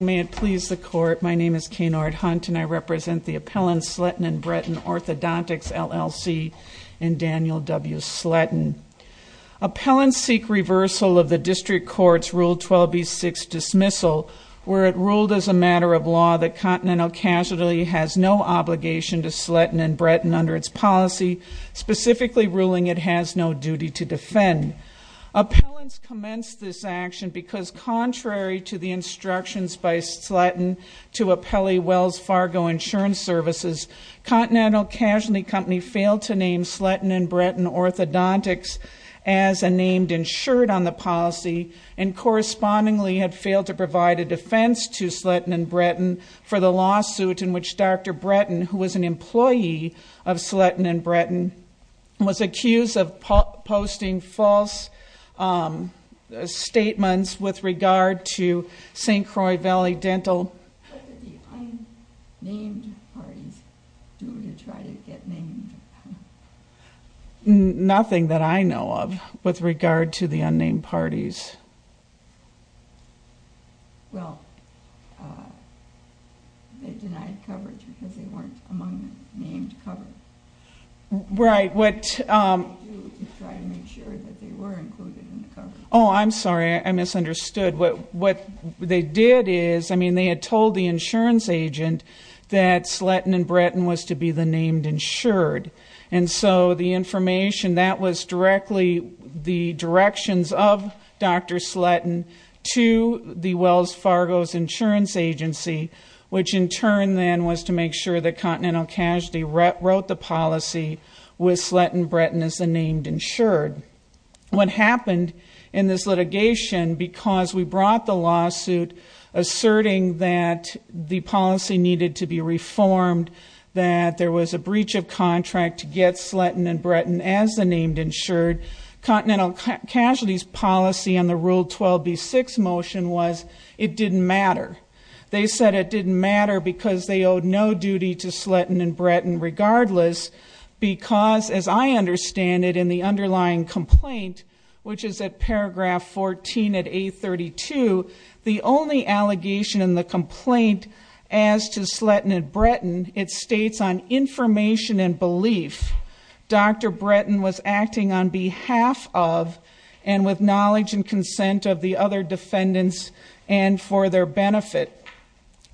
May it please the Court, my name is Kaynard Hunt and I represent the Appellants Sletten & Brettin Orthodontics LLC and Daniel W. Sletten. Appellants seek reversal of the District Court's Rule 12b-6 Dismissal, where it ruled as a matter of law that Continental Casualty has no obligation to Sletten & Brettin under its policy, specifically ruling it has no duty to defend. Appellants commenced this action because contrary to the instructions by Sletten to appellee Wells Fargo Insurance Services, Continental Casualty Company failed to name Sletten & Brettin Orthodontics as a named insured on the policy, and correspondingly had failed to provide a defense to Sletten & Brettin for the lawsuit in which Dr. Bretton, who was an employee of Sletten & Brettin, was accused of posting false statements with regard to St. Croix Valley Dental. What did the unnamed parties do to try to get named? Nothing that I know of with regard to the unnamed parties. Well, they denied coverage because they weren't among the named coverage. Right, what- They didn't do anything to try to make sure that they were included in the coverage. Oh, I'm sorry, I misunderstood. What they did is, I mean, they had told the insurance agent that Sletten & Brettin was to be the named insured, and so the information, that was directly the directions of Dr. Sletten to the Wells Fargo Insurance Agency, which in turn then was to make sure that Continental Casualty wrote the policy with Sletten & Brettin as the named insured. What happened in this litigation, because we brought the lawsuit asserting that the policy needed to be reformed, that there was a breach of contract to get Sletten & Brettin as the named insured, Continental Casualty's policy on the Rule 12b6 motion was, it didn't matter. They said it didn't matter because they owed no duty to Sletten & Brettin regardless, because as I understand it in the underlying complaint, which is at paragraph 14 at A32, the only allegation in the complaint as to Sletten & Brettin, it states on information and belief, Dr. Brettin was acting on behalf of and with knowledge and consent of the other defendants and for their benefit.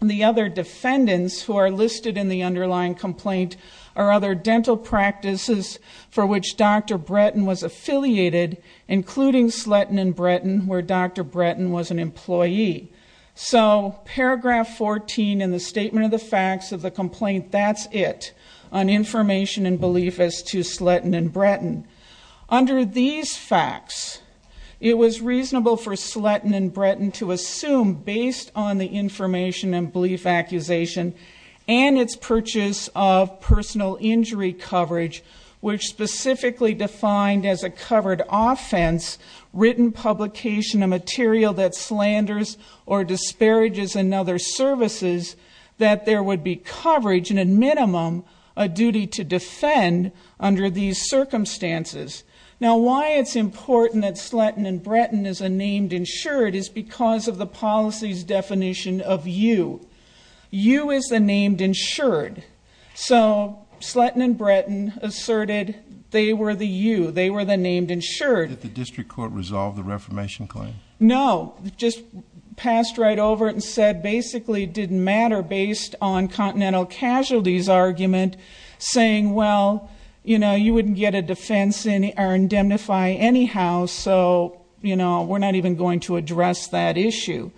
The other defendants who are listed in the underlying complaint are other dental practices for which Dr. Brettin was affiliated, including Sletten & Brettin, where Dr. Brettin was an employee. So paragraph 14 in the statement of the facts of the complaint, that's it, on information and belief as to Sletten & Brettin. Under these facts, it was reasonable for Sletten & Brettin to assume, based on the information and belief accusation, and its purchase of personal injury coverage, which specifically defined as a covered offense, written publication of material that slanders or disparages another's services, that there would be coverage, and at minimum, a duty to defend under these circumstances. Now why it's important that Sletten & Brettin is a named insured is because of the policy's definition of you. You is the named insured. So Sletten & Brettin asserted they were the you, they were the named insured. Did the district court resolve the reformation claim? No, just passed right over it and said basically it didn't matter based on continental casualties argument, saying well, you wouldn't get a defense or indemnify anyhow, so we're not even going to address that issue.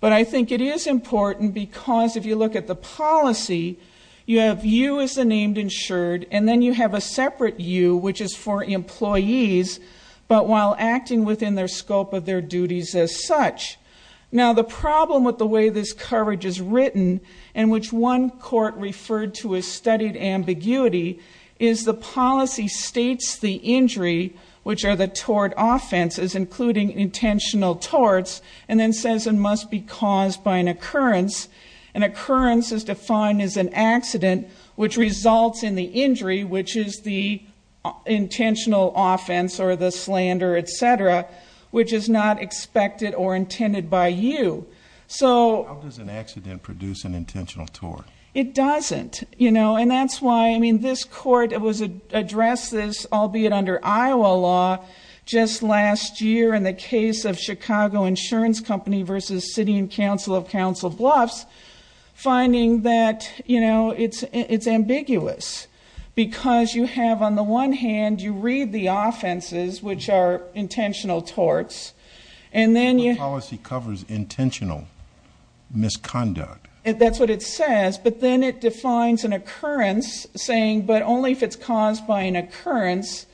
But I think it is important because if you look at the policy, you have you as the named insured, and then you have a separate you, which is for employees, but while acting within their scope of their duties as such. Now the problem with the way this coverage is written, and which one court referred to as studied ambiguity, is the policy states the injury, which are the tort offenses, including intentional torts, and then says it must be caused by an occurrence. An occurrence is defined as an accident, which results in the injury, which is the intentional offense or the slander, etc., which is not expected or intended by you. So- How does an accident produce an intentional tort? It doesn't, and that's why, I mean, this court, it was addressed this, albeit under Iowa law, just last year in the case of Chicago Insurance Company versus City and Council of Council Bluffs, finding that, you know, it's ambiguous because you have, on the one hand, you read the offenses, which are intentional torts, and then you- The policy covers intentional misconduct. That's what it says, but then it defines an occurrence, saying, but only if it's caused by an occurrence.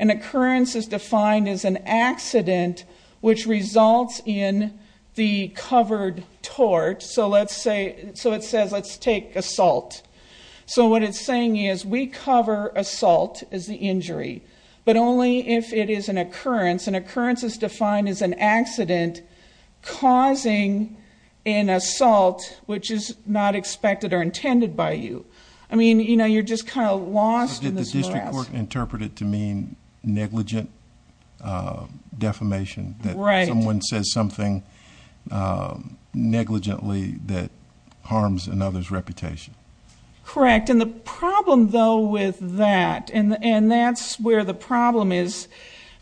An occurrence is defined as an accident, which results in the covered tort. So let's say, so it says, let's take assault. So what it's saying is, we cover assault as the injury, but only if it is an occurrence. An occurrence is defined as an accident causing an assault, which is not expected or intended by you. I mean, you know, you're just kind of lost in this- Did the district court interpret it to mean negligent defamation, that someone says something negligently that harms another's reputation? Correct, and the problem, though, with that, and that's where the problem is,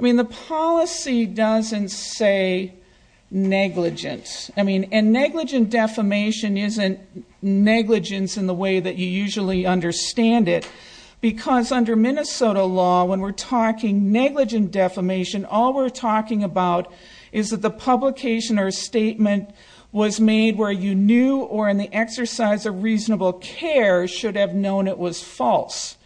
I mean, the policy doesn't say negligence. I mean, and negligent defamation isn't negligence in the way that you usually understand it. Because under Minnesota law, when we're talking negligent defamation, all we're talking about is that the publication or statement was made where you knew or, in the exercise of reasonable care, should have known it was false.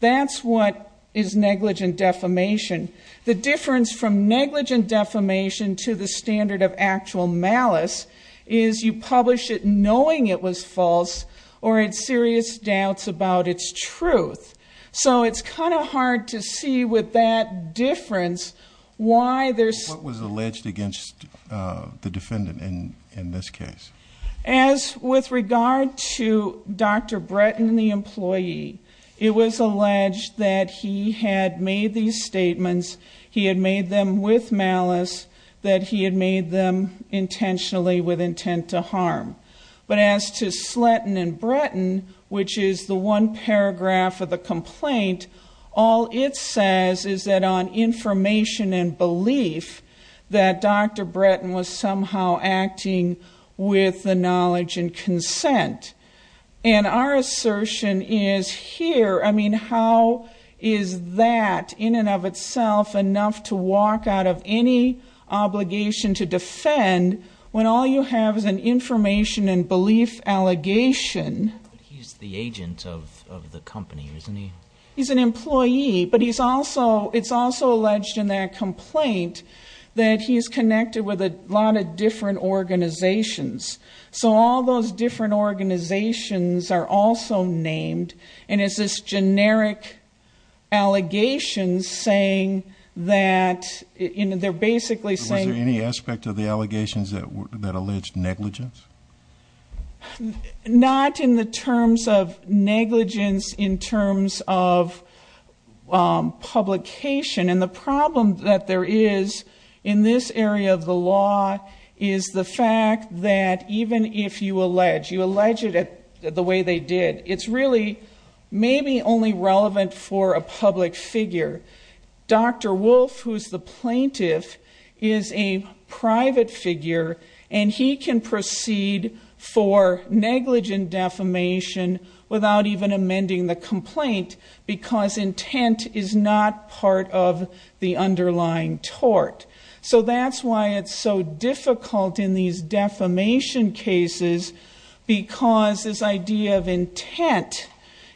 That's what is negligent defamation. The difference from negligent defamation to the standard of actual malice is you publish it knowing it was false or had serious doubts about its truth. So it's kind of hard to see with that difference why there's- What was alleged against the defendant in this case? As with regard to Dr. Breton, the employee, it was alleged that he had made these statements, he had made them with malice, that he had made them intentionally with intent to harm. But as to Sletton and Breton, which is the one paragraph of the complaint, all it says is that on information and belief, that Dr. Breton was somehow acting with the knowledge and consent. And our assertion is here, I mean, how is that in and of itself enough to walk out of any obligation to defend when all you have is an information and belief allegation? He's the agent of the company, isn't he? He's an employee, but it's also alleged in that complaint that he's connected with a lot of different organizations. So all those different organizations are also named, and it's this generic allegations saying that they're basically saying- Was there any aspect of the allegations that alleged negligence? Not in the terms of negligence, in terms of publication. And the problem that there is in this area of the law is the fact that even if you allege, you allege it the way they did, it's really maybe only relevant for a public figure. Dr. Wolfe, who's the plaintiff, is a private figure, and he can proceed for negligent defamation without even amending the complaint because intent is not part of the underlying tort. So that's why it's so difficult in these defamation cases because this idea of intent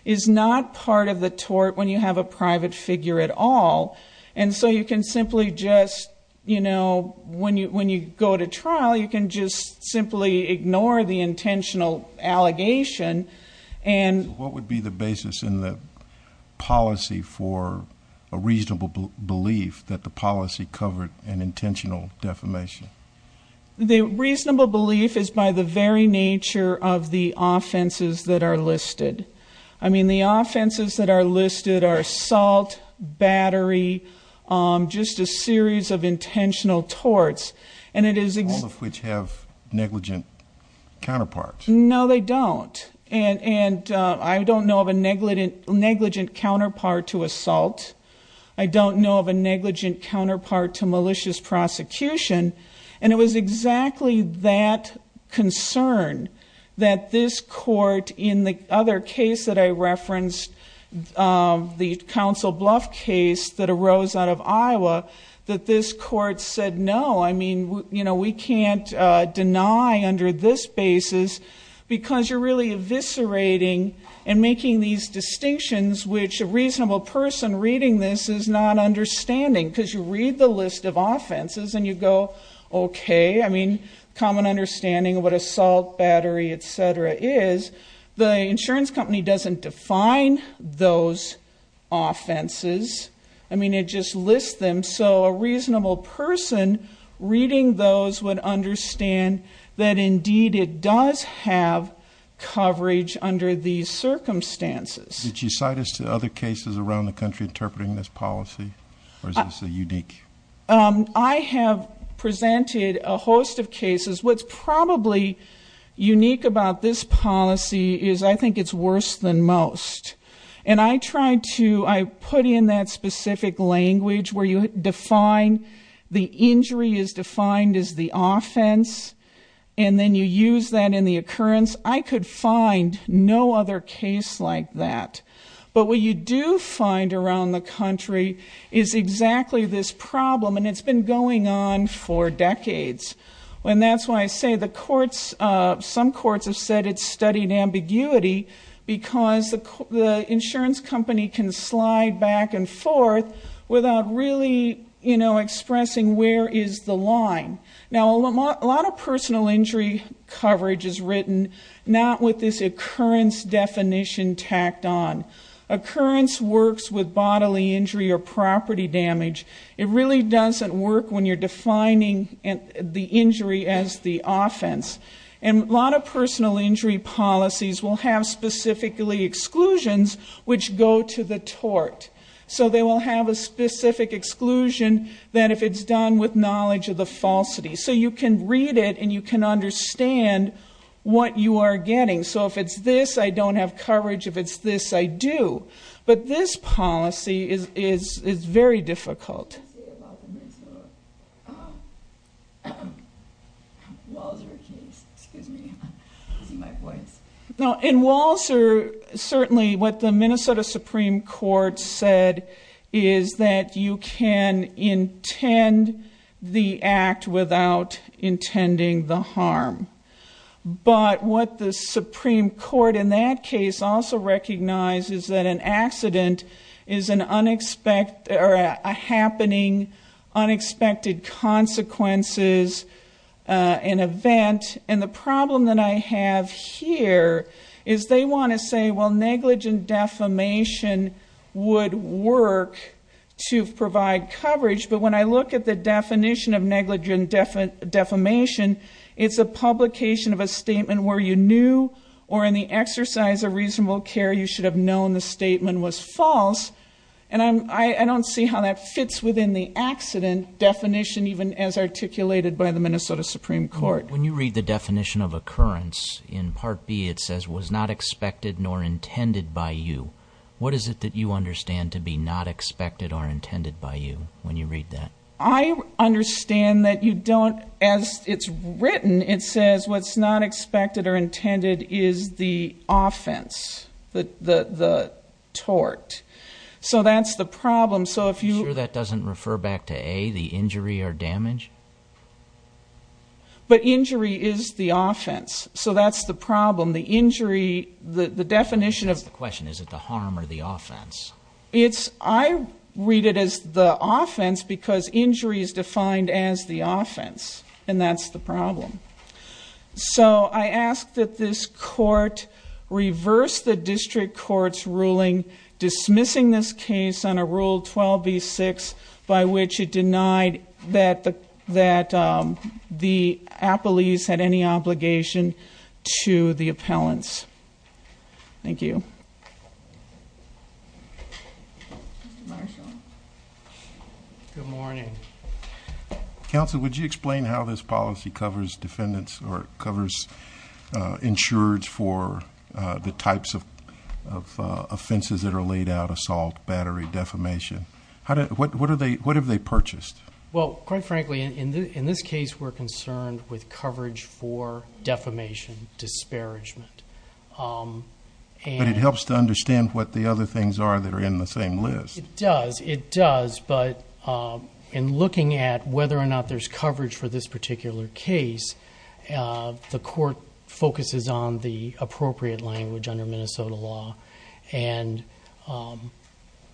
is not part of the tort when you have a private figure at all. And so you can simply just, when you go to trial, you can just simply ignore the intentional allegation and- What would be the basis in the policy for a reasonable belief that the policy covered an intentional defamation? The reasonable belief is by the very nature of the offenses that are listed. I mean, the offenses that are listed are assault, battery, just a series of intentional torts, and it is- All of which have negligent counterparts. No, they don't. And I don't know of a negligent counterpart to assault. I don't know of a negligent counterpart to malicious prosecution. And it was exactly that concern that this court, in the other case that I referenced, the Counsel Bluff case that arose out of Iowa, that this court said, no, I mean, we can't deny under this basis because you're really eviscerating and making these distinctions which a reasonable person reading this is not understanding because you read the list of offenses and you go, okay, I mean, common understanding of what assault, battery, etc. is. The insurance company doesn't define those offenses. I mean, it just lists them. So a reasonable person reading those would understand that indeed it does have coverage under these circumstances. Did you cite us to other cases around the country interpreting this policy? Or is this a unique- I have presented a host of cases. What's probably unique about this policy is I think it's worse than most. And I tried to- I put in that specific language where you define- the injury is defined as the offense and then you use that in the occurrence. I could find no other case like that. But what you do find around the country is exactly this problem and it's been going on for decades. And that's why I say the courts- some courts have said it's studied ambiguity because the insurance company can slide back and forth without really expressing where is the line. Now, a lot of personal injury coverage is written not with this occurrence definition tacked on. Occurrence works with bodily injury or property damage. It really doesn't work when you're defining the injury as the offense. And a lot of personal injury policies will have specifically exclusions which go to the tort. So they will have a specific exclusion that if it's done with knowledge of the falsity. So you can read it and you can understand what you are getting. So if it's this, I don't have coverage. If it's this, I do. But this policy is very difficult. What do you say about the Minnesota Walser case? Excuse me, I'm losing my voice. Now, in Walser, certainly what the Minnesota Supreme Court said is that you can intend the act without intending the harm. But what the Supreme Court in that case also recognizes is that an accident is a happening, unexpected consequences, an event. And the problem that I have here is they want to say, well, negligent defamation would work to provide coverage. But when I look at the definition of negligent defamation, it's a publication of a statement where you knew or in the exercise of reasonable care, you should have known the statement was false. And I don't see how that fits within the accident definition even as articulated by the Minnesota Supreme Court. When you read the definition of occurrence in Part B, it says was not expected nor intended by you. What is it that you understand to be not expected or intended by you when you read that? I understand that you don't, as it's written, it says what's not expected or intended is the offense, the tort. So that's the problem. So if you- I'm sure that doesn't refer back to A, the injury or damage. But injury is the offense. So that's the problem. The injury, the definition of- That's the question. Is it the harm or the offense? I read it as the offense because injury is defined as the offense. And that's the problem. So I ask that this court reverse the district court's ruling, dismissing this case on a Rule 12b-6, by which it denied that the appellees had any obligation to the appellants. Thank you. Mr. Marshall. Good morning. Counsel, would you explain how this policy covers defendants or covers insurers for the types of offenses that are laid out, assault, battery, defamation? What have they purchased? Well, quite frankly, in this case, we're concerned with coverage for defamation, disparagement. But it helps to understand what the other things are that are in the same list. It does. It does. But in looking at whether or not there's coverage for this particular case, the court focuses on the appropriate language under Minnesota law. And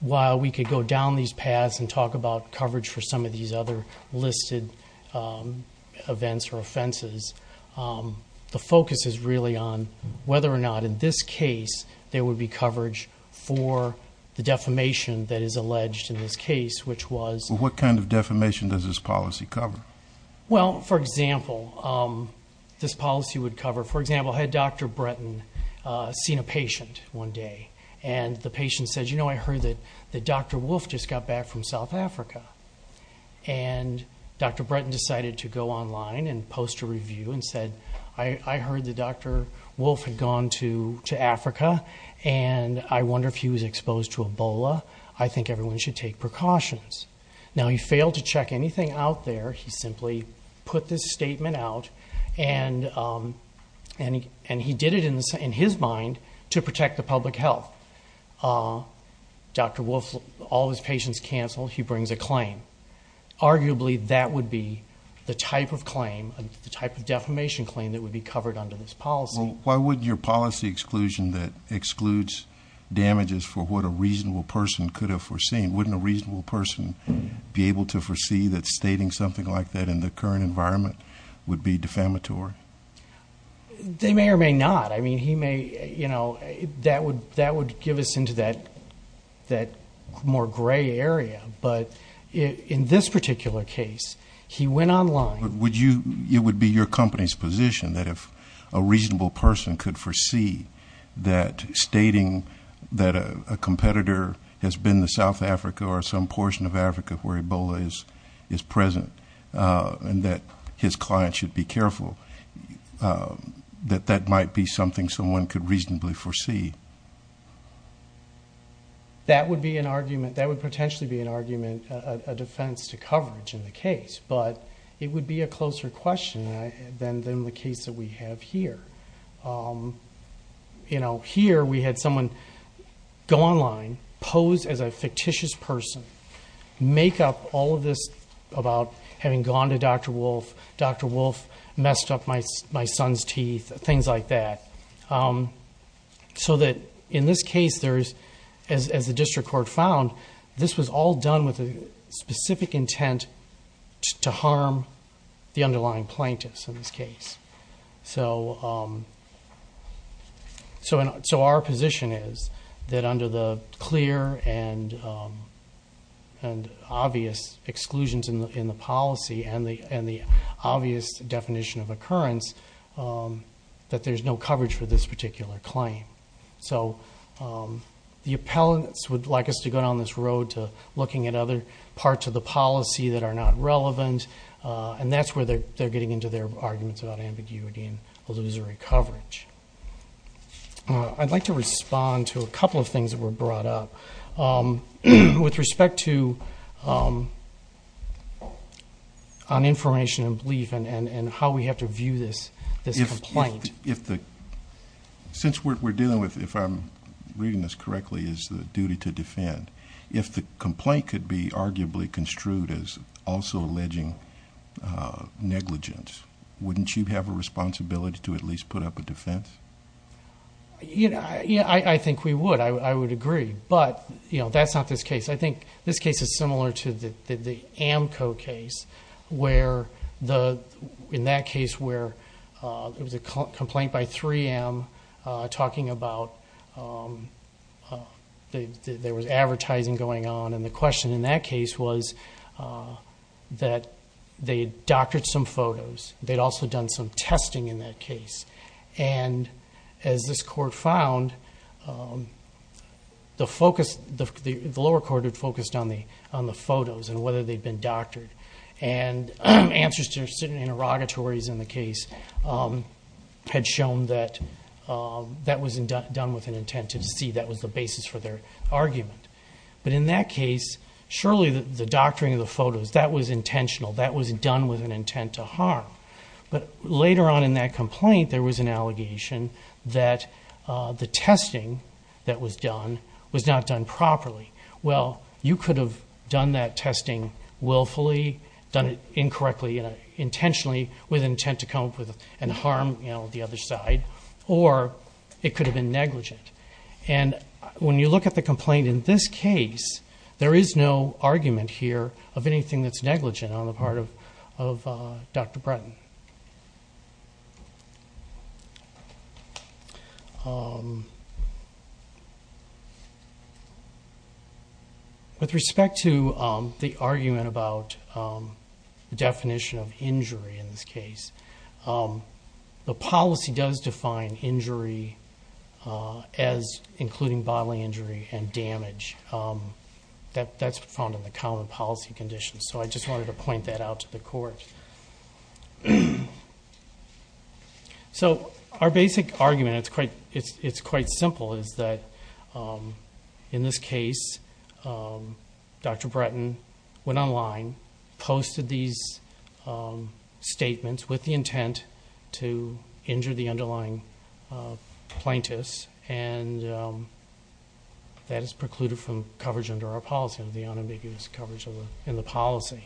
while we could go down these paths and talk about coverage for some of these other listed events or offenses, the focus is really on whether or not, in this case, there would be coverage for the defamation that is alleged in this case, which was- What kind of defamation does this policy cover? Well, for example, this policy would cover, for example, I had Dr. Breton seen a patient one day. And the patient said, you know, I heard that Dr. Wolf just got back from South Africa. And Dr. Breton decided to go online and post a review and said, I heard that Dr. Wolf had gone to Africa. And I wonder if he was exposed to Ebola. I think everyone should take precautions. Now, he failed to check anything out there. He simply put this statement out. And he did it in his mind to protect the public health. He brings a claim. Arguably, that would be the type of claim, the type of defamation claim that would be covered under this policy. Why would your policy exclusion that excludes damages for what a reasonable person could have foreseen, wouldn't a reasonable person be able to foresee that stating something like that in the current environment would be defamatory? They may or may not. I mean, he may, you know, that would give us into that more gray area. But in this particular case, he went online. Would you, it would be your company's position that if a reasonable person could foresee that stating that a competitor has been to South Africa or some portion of Africa where Ebola is present and that his client should be careful, that that might be something someone could reasonably foresee? That would be an argument, that would potentially be an argument, a defense to coverage in the case. But it would be a closer question than the case that we have here. You know, here we had someone go online, pose as a fictitious person, make up all of this about having gone to Dr. Wolfe, Dr. Wolfe messed up my son's teeth, things like that. So that in this case, there's, as the district court found, this was all done with a specific intent to harm the underlying plaintiffs in this case. So our position is that under the clear and obvious exclusions in the policy and the obvious definition of occurrence, that there's no coverage for this particular claim. So the appellants would like us to go down this road to looking at other parts of the policy that are not relevant and that's where they're getting into their arguments about ambiguity and illusory coverage. I'd like to respond to a couple of things that were brought up. With respect to, on information and belief and how we have to view this complaint. If the, since we're dealing with, if I'm reading this correctly, is the duty to defend. If the complaint could be arguably construed as also alleging negligence, wouldn't you have a responsibility to at least put up a defense? Yeah, I think we would. I would agree, but that's not this case. I think this case is similar to the AMCO case where the, in that case, where it was a complaint by 3M talking about, there was advertising going on and the question in that case was that they doctored some photos. They'd also done some testing in that case. And as this court found, the focus, the lower court had focused on the photos and whether they'd been doctored and answers to their student interrogatories in the case had shown that that was done with an intent to see that was the basis for their argument. But in that case, surely the doctoring of the photos, that was intentional. That was done with an intent to harm. But later on in that complaint, there was an allegation that the testing that was done was not done properly. Well, you could have done that testing willfully, done it incorrectly, intentionally with intent to come up with and harm the other side, or it could have been negligent. And when you look at the complaint in this case, there is no argument here of anything that's negligent on the part of Dr. Breton. With respect to the argument about the definition of injury in this case, the policy does define injury as including bodily injury and damage. That's found in the common policy conditions. So I just wanted to point that out to the court. So our basic argument, it's quite simple, is that in this case, Dr. Breton went online, posted these statements with the intent to injure the underlying plaintiffs. And that is precluded from coverage under our policy, the unambiguous coverage in the policy.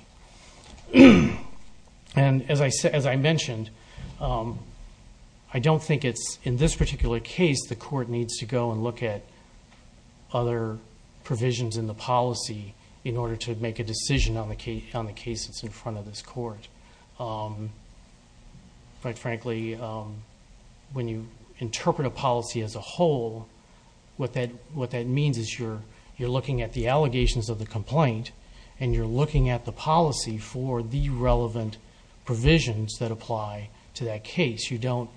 And as I mentioned, I don't think it's in this particular case, the court needs to go and look at other provisions in the policy in order to make a decision on the case that's in front of this court. But frankly, when you interpret a policy as a whole, what that means is you're looking at the allegations of the complaint and you're looking at the policy for the relevant provisions that apply to that case. You don't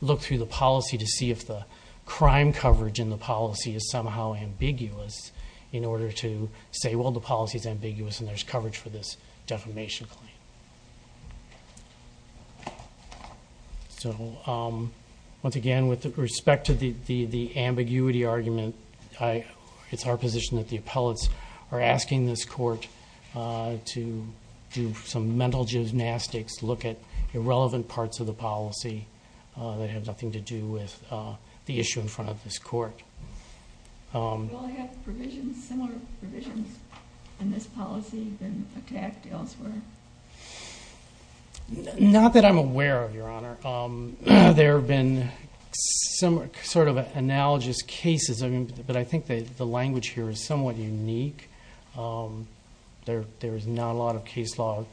look through the policy to see if the crime coverage in the policy is somehow ambiguous in order to say, well, the policy is ambiguous and there's coverage for this defamation claim. So once again, with respect to the ambiguity argument, it's our position that the appellates are asking this court to do some mental gymnastics, look at irrelevant parts of the policy that have nothing to do with the issue in front of this court. Do you all have similar provisions in this policy that have been attacked elsewhere? Not that I'm aware of, Your Honor. There have been some sort of analogous cases, but I think the language here is somewhat unique. There's not a lot of case law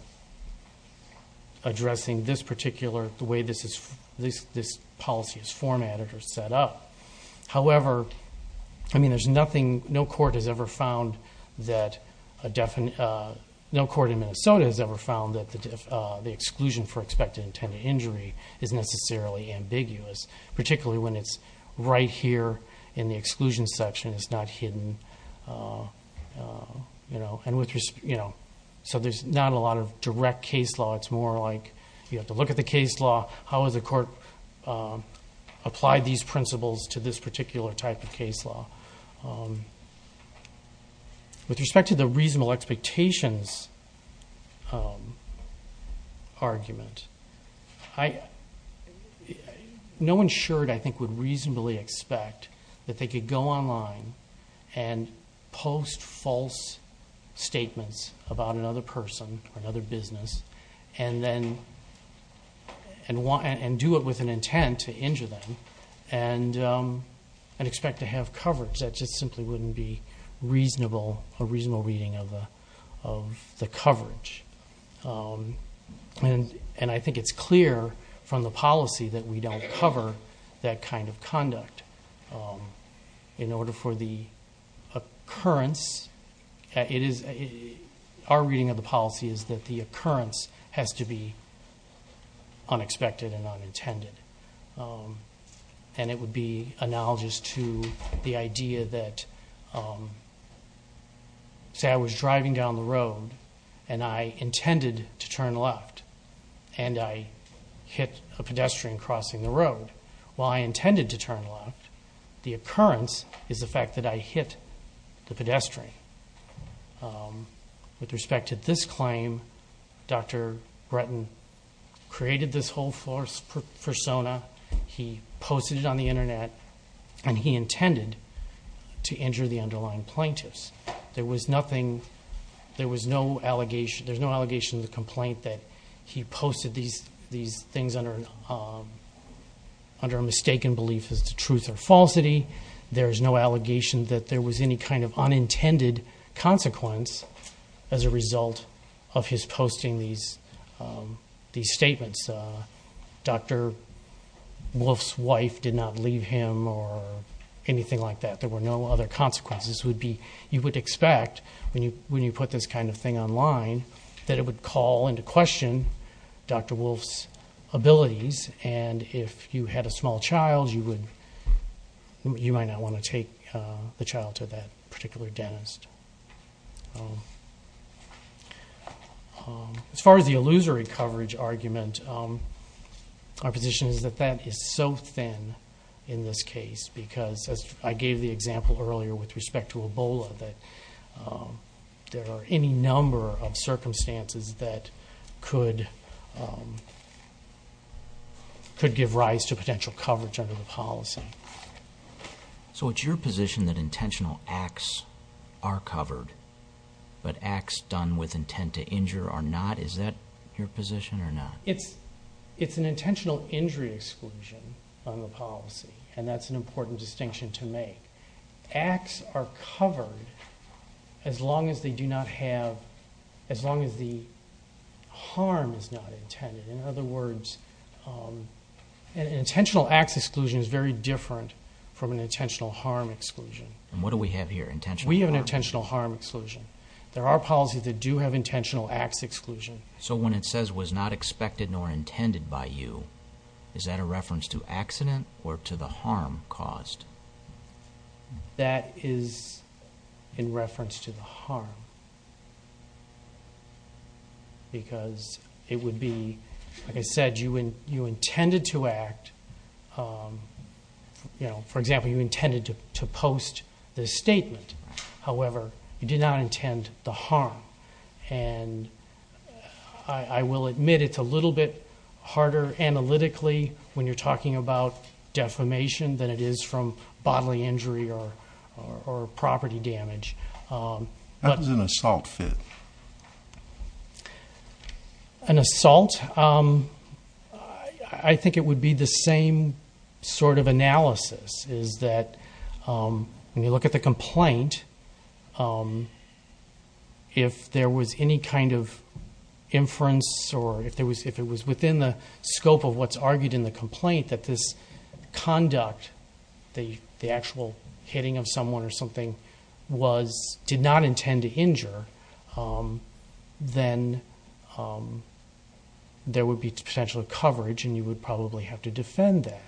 addressing this particular, the way this policy is formatted or set up. However, no court in Minnesota has ever found that the exclusion for expected intended injury is necessarily ambiguous, particularly when it's right here in the exclusion section, it's not hidden. So there's not a lot of direct case law. It's more like you have to look at the case law, how has the court applied these principles to this particular type of case law. With respect to the reasonable expectations argument, no insured, I think, would reasonably expect that they could go online and post false statements about another person or another business and do it with an intent to injure them and expect to have coverage. That just simply wouldn't be a reasonable reading of the coverage. I think it's clear from the policy that we don't cover that kind of conduct. In order for the occurrence, our reading of the policy is that the occurrence has to be unexpected and unintended. And it would be analogous to the idea that, say I was driving down the road and I intended to turn left and I hit a pedestrian crossing the road. While I intended to turn left, the occurrence is the fact that I hit the pedestrian. With respect to this claim, Dr. Breton created this whole fursona. He posted it on the internet and he intended to injure the underlying plaintiffs. There was nothing, there was no allegation, the complaint that he posted these things under a mistaken belief as the truth or falsity. There is no allegation that there was any kind of unintended consequence as a result of his posting these statements. Dr. Wolfe's wife did not leave him or anything like that. There were no other consequences. You would expect when you put this kind of thing online that it would call into question Dr. Wolfe's abilities. And if you had a small child, you might not want to take the child to that particular dentist. As far as the illusory coverage argument, our position is that that is so thin in this case because, as I gave the example earlier with respect to Ebola, that there are any number of circumstances that could give rise to potential coverage under the policy. So it's your position that intentional acts are covered, but acts done with intent to injure are not? Is that your position or not? It's an intentional injury exclusion under the policy and that's an important distinction to make. Acts are covered as long as the harm is not intended. In other words, an intentional acts exclusion is very different from an intentional harm exclusion. And what do we have here? We have an intentional harm exclusion. There are policies that do have intentional acts exclusion. So when it says, was not expected nor intended by you, is that a reference to accident or to the harm caused? That is in reference to the harm. Because it would be, like I said, you intended to act. For example, you intended to post this statement. However, you did not intend the harm. And I will admit it's a little bit harder analytically when you're talking about defamation than it is from bodily injury or property damage. How does an assault fit? An assault, I think it would be the same sort of analysis. Is that when you look at the complaint, if there was any kind of inference or if it was within the scope of what's argued in the complaint, that this conduct, the actual hitting of someone or something, did not intend to injure, then there would be potential coverage and you would probably have to defend that.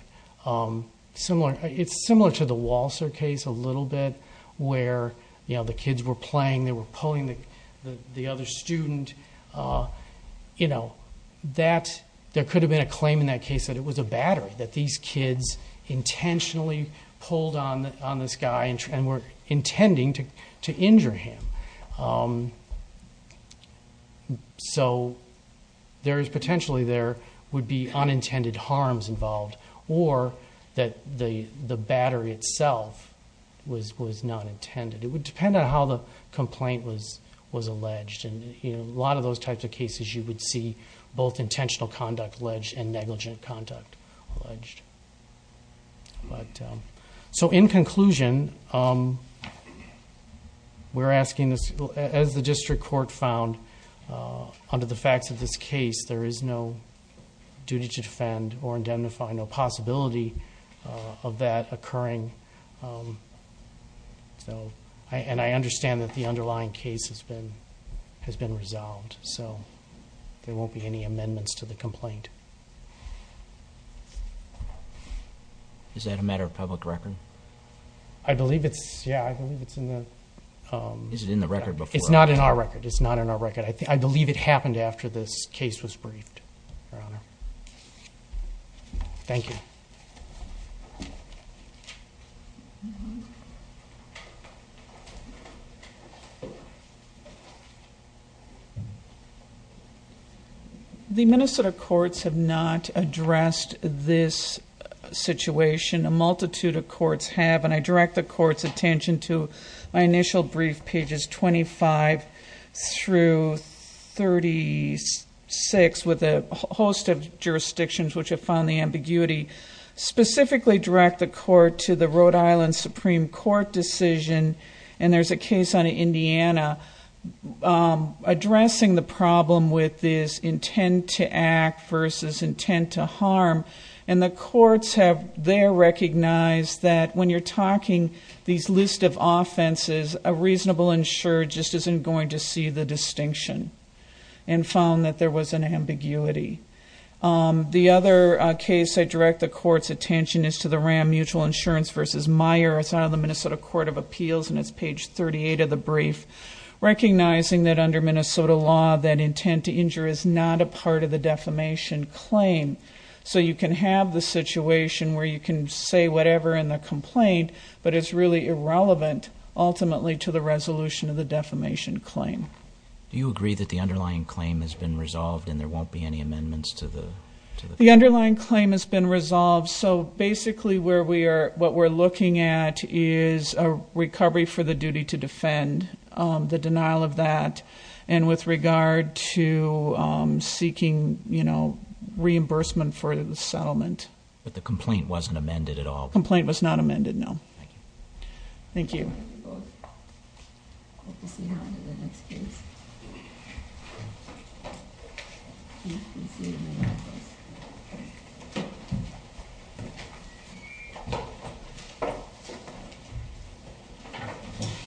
It's similar to the Walser case a little bit where the kids were playing, they were pulling the other student. There could have been a claim in that case that it was a battery, that these kids intentionally pulled on this guy and were intending to injure him. So potentially there would be unintended harms involved. Or that the battery itself was not intended. It would depend on how the complaint was alleged. A lot of those types of cases you would see both intentional conduct alleged and negligent conduct alleged. In conclusion, we're asking this, as the district court found, under the facts of this case, there is no duty to defend or indemnify. No possibility of that occurring. I understand that the underlying case has been resolved. There won't be any amendments to the complaint. Is that a matter of public record? I believe it's, yeah, I believe it's in the... Is it in the record before? It's not in our record. It's not in our record. I believe it happened after this case was briefed, Your Honor. Thank you. The Minnesota courts have not addressed this situation. A multitude of courts have. And I direct the court's attention to my initial brief, pages 25 through 36, with a host of jurisdictions which have found the ambiguity. Specifically direct the court to the Rhode Island Supreme Court decision. And there's a case on Indiana addressing the problem with this intent to act versus intent to harm. And the courts have there recognized that when you're talking these list of offenses, a reasonable insured just isn't going to see the distinction and found that there was an ambiguity. The other case I direct the court's attention is to the Ram Mutual Insurance versus Meyer. It's out of the Minnesota Court of Appeals, and it's page 38 of the brief, recognizing that under Minnesota law, that intent to injure is not a part of the defamation claim. So you can have the situation where you can say whatever in the complaint, but it's really irrelevant ultimately to the resolution of the defamation claim. Do you agree that the underlying claim has been resolved and there won't be any amendments to the- The underlying claim has been resolved. So basically what we're looking at is a recovery for the duty to defend, the denial of that, and with regard to seeking reimbursement for the settlement. But the complaint wasn't amended at all? Complaint was not amended, no. Thank you. Thank you.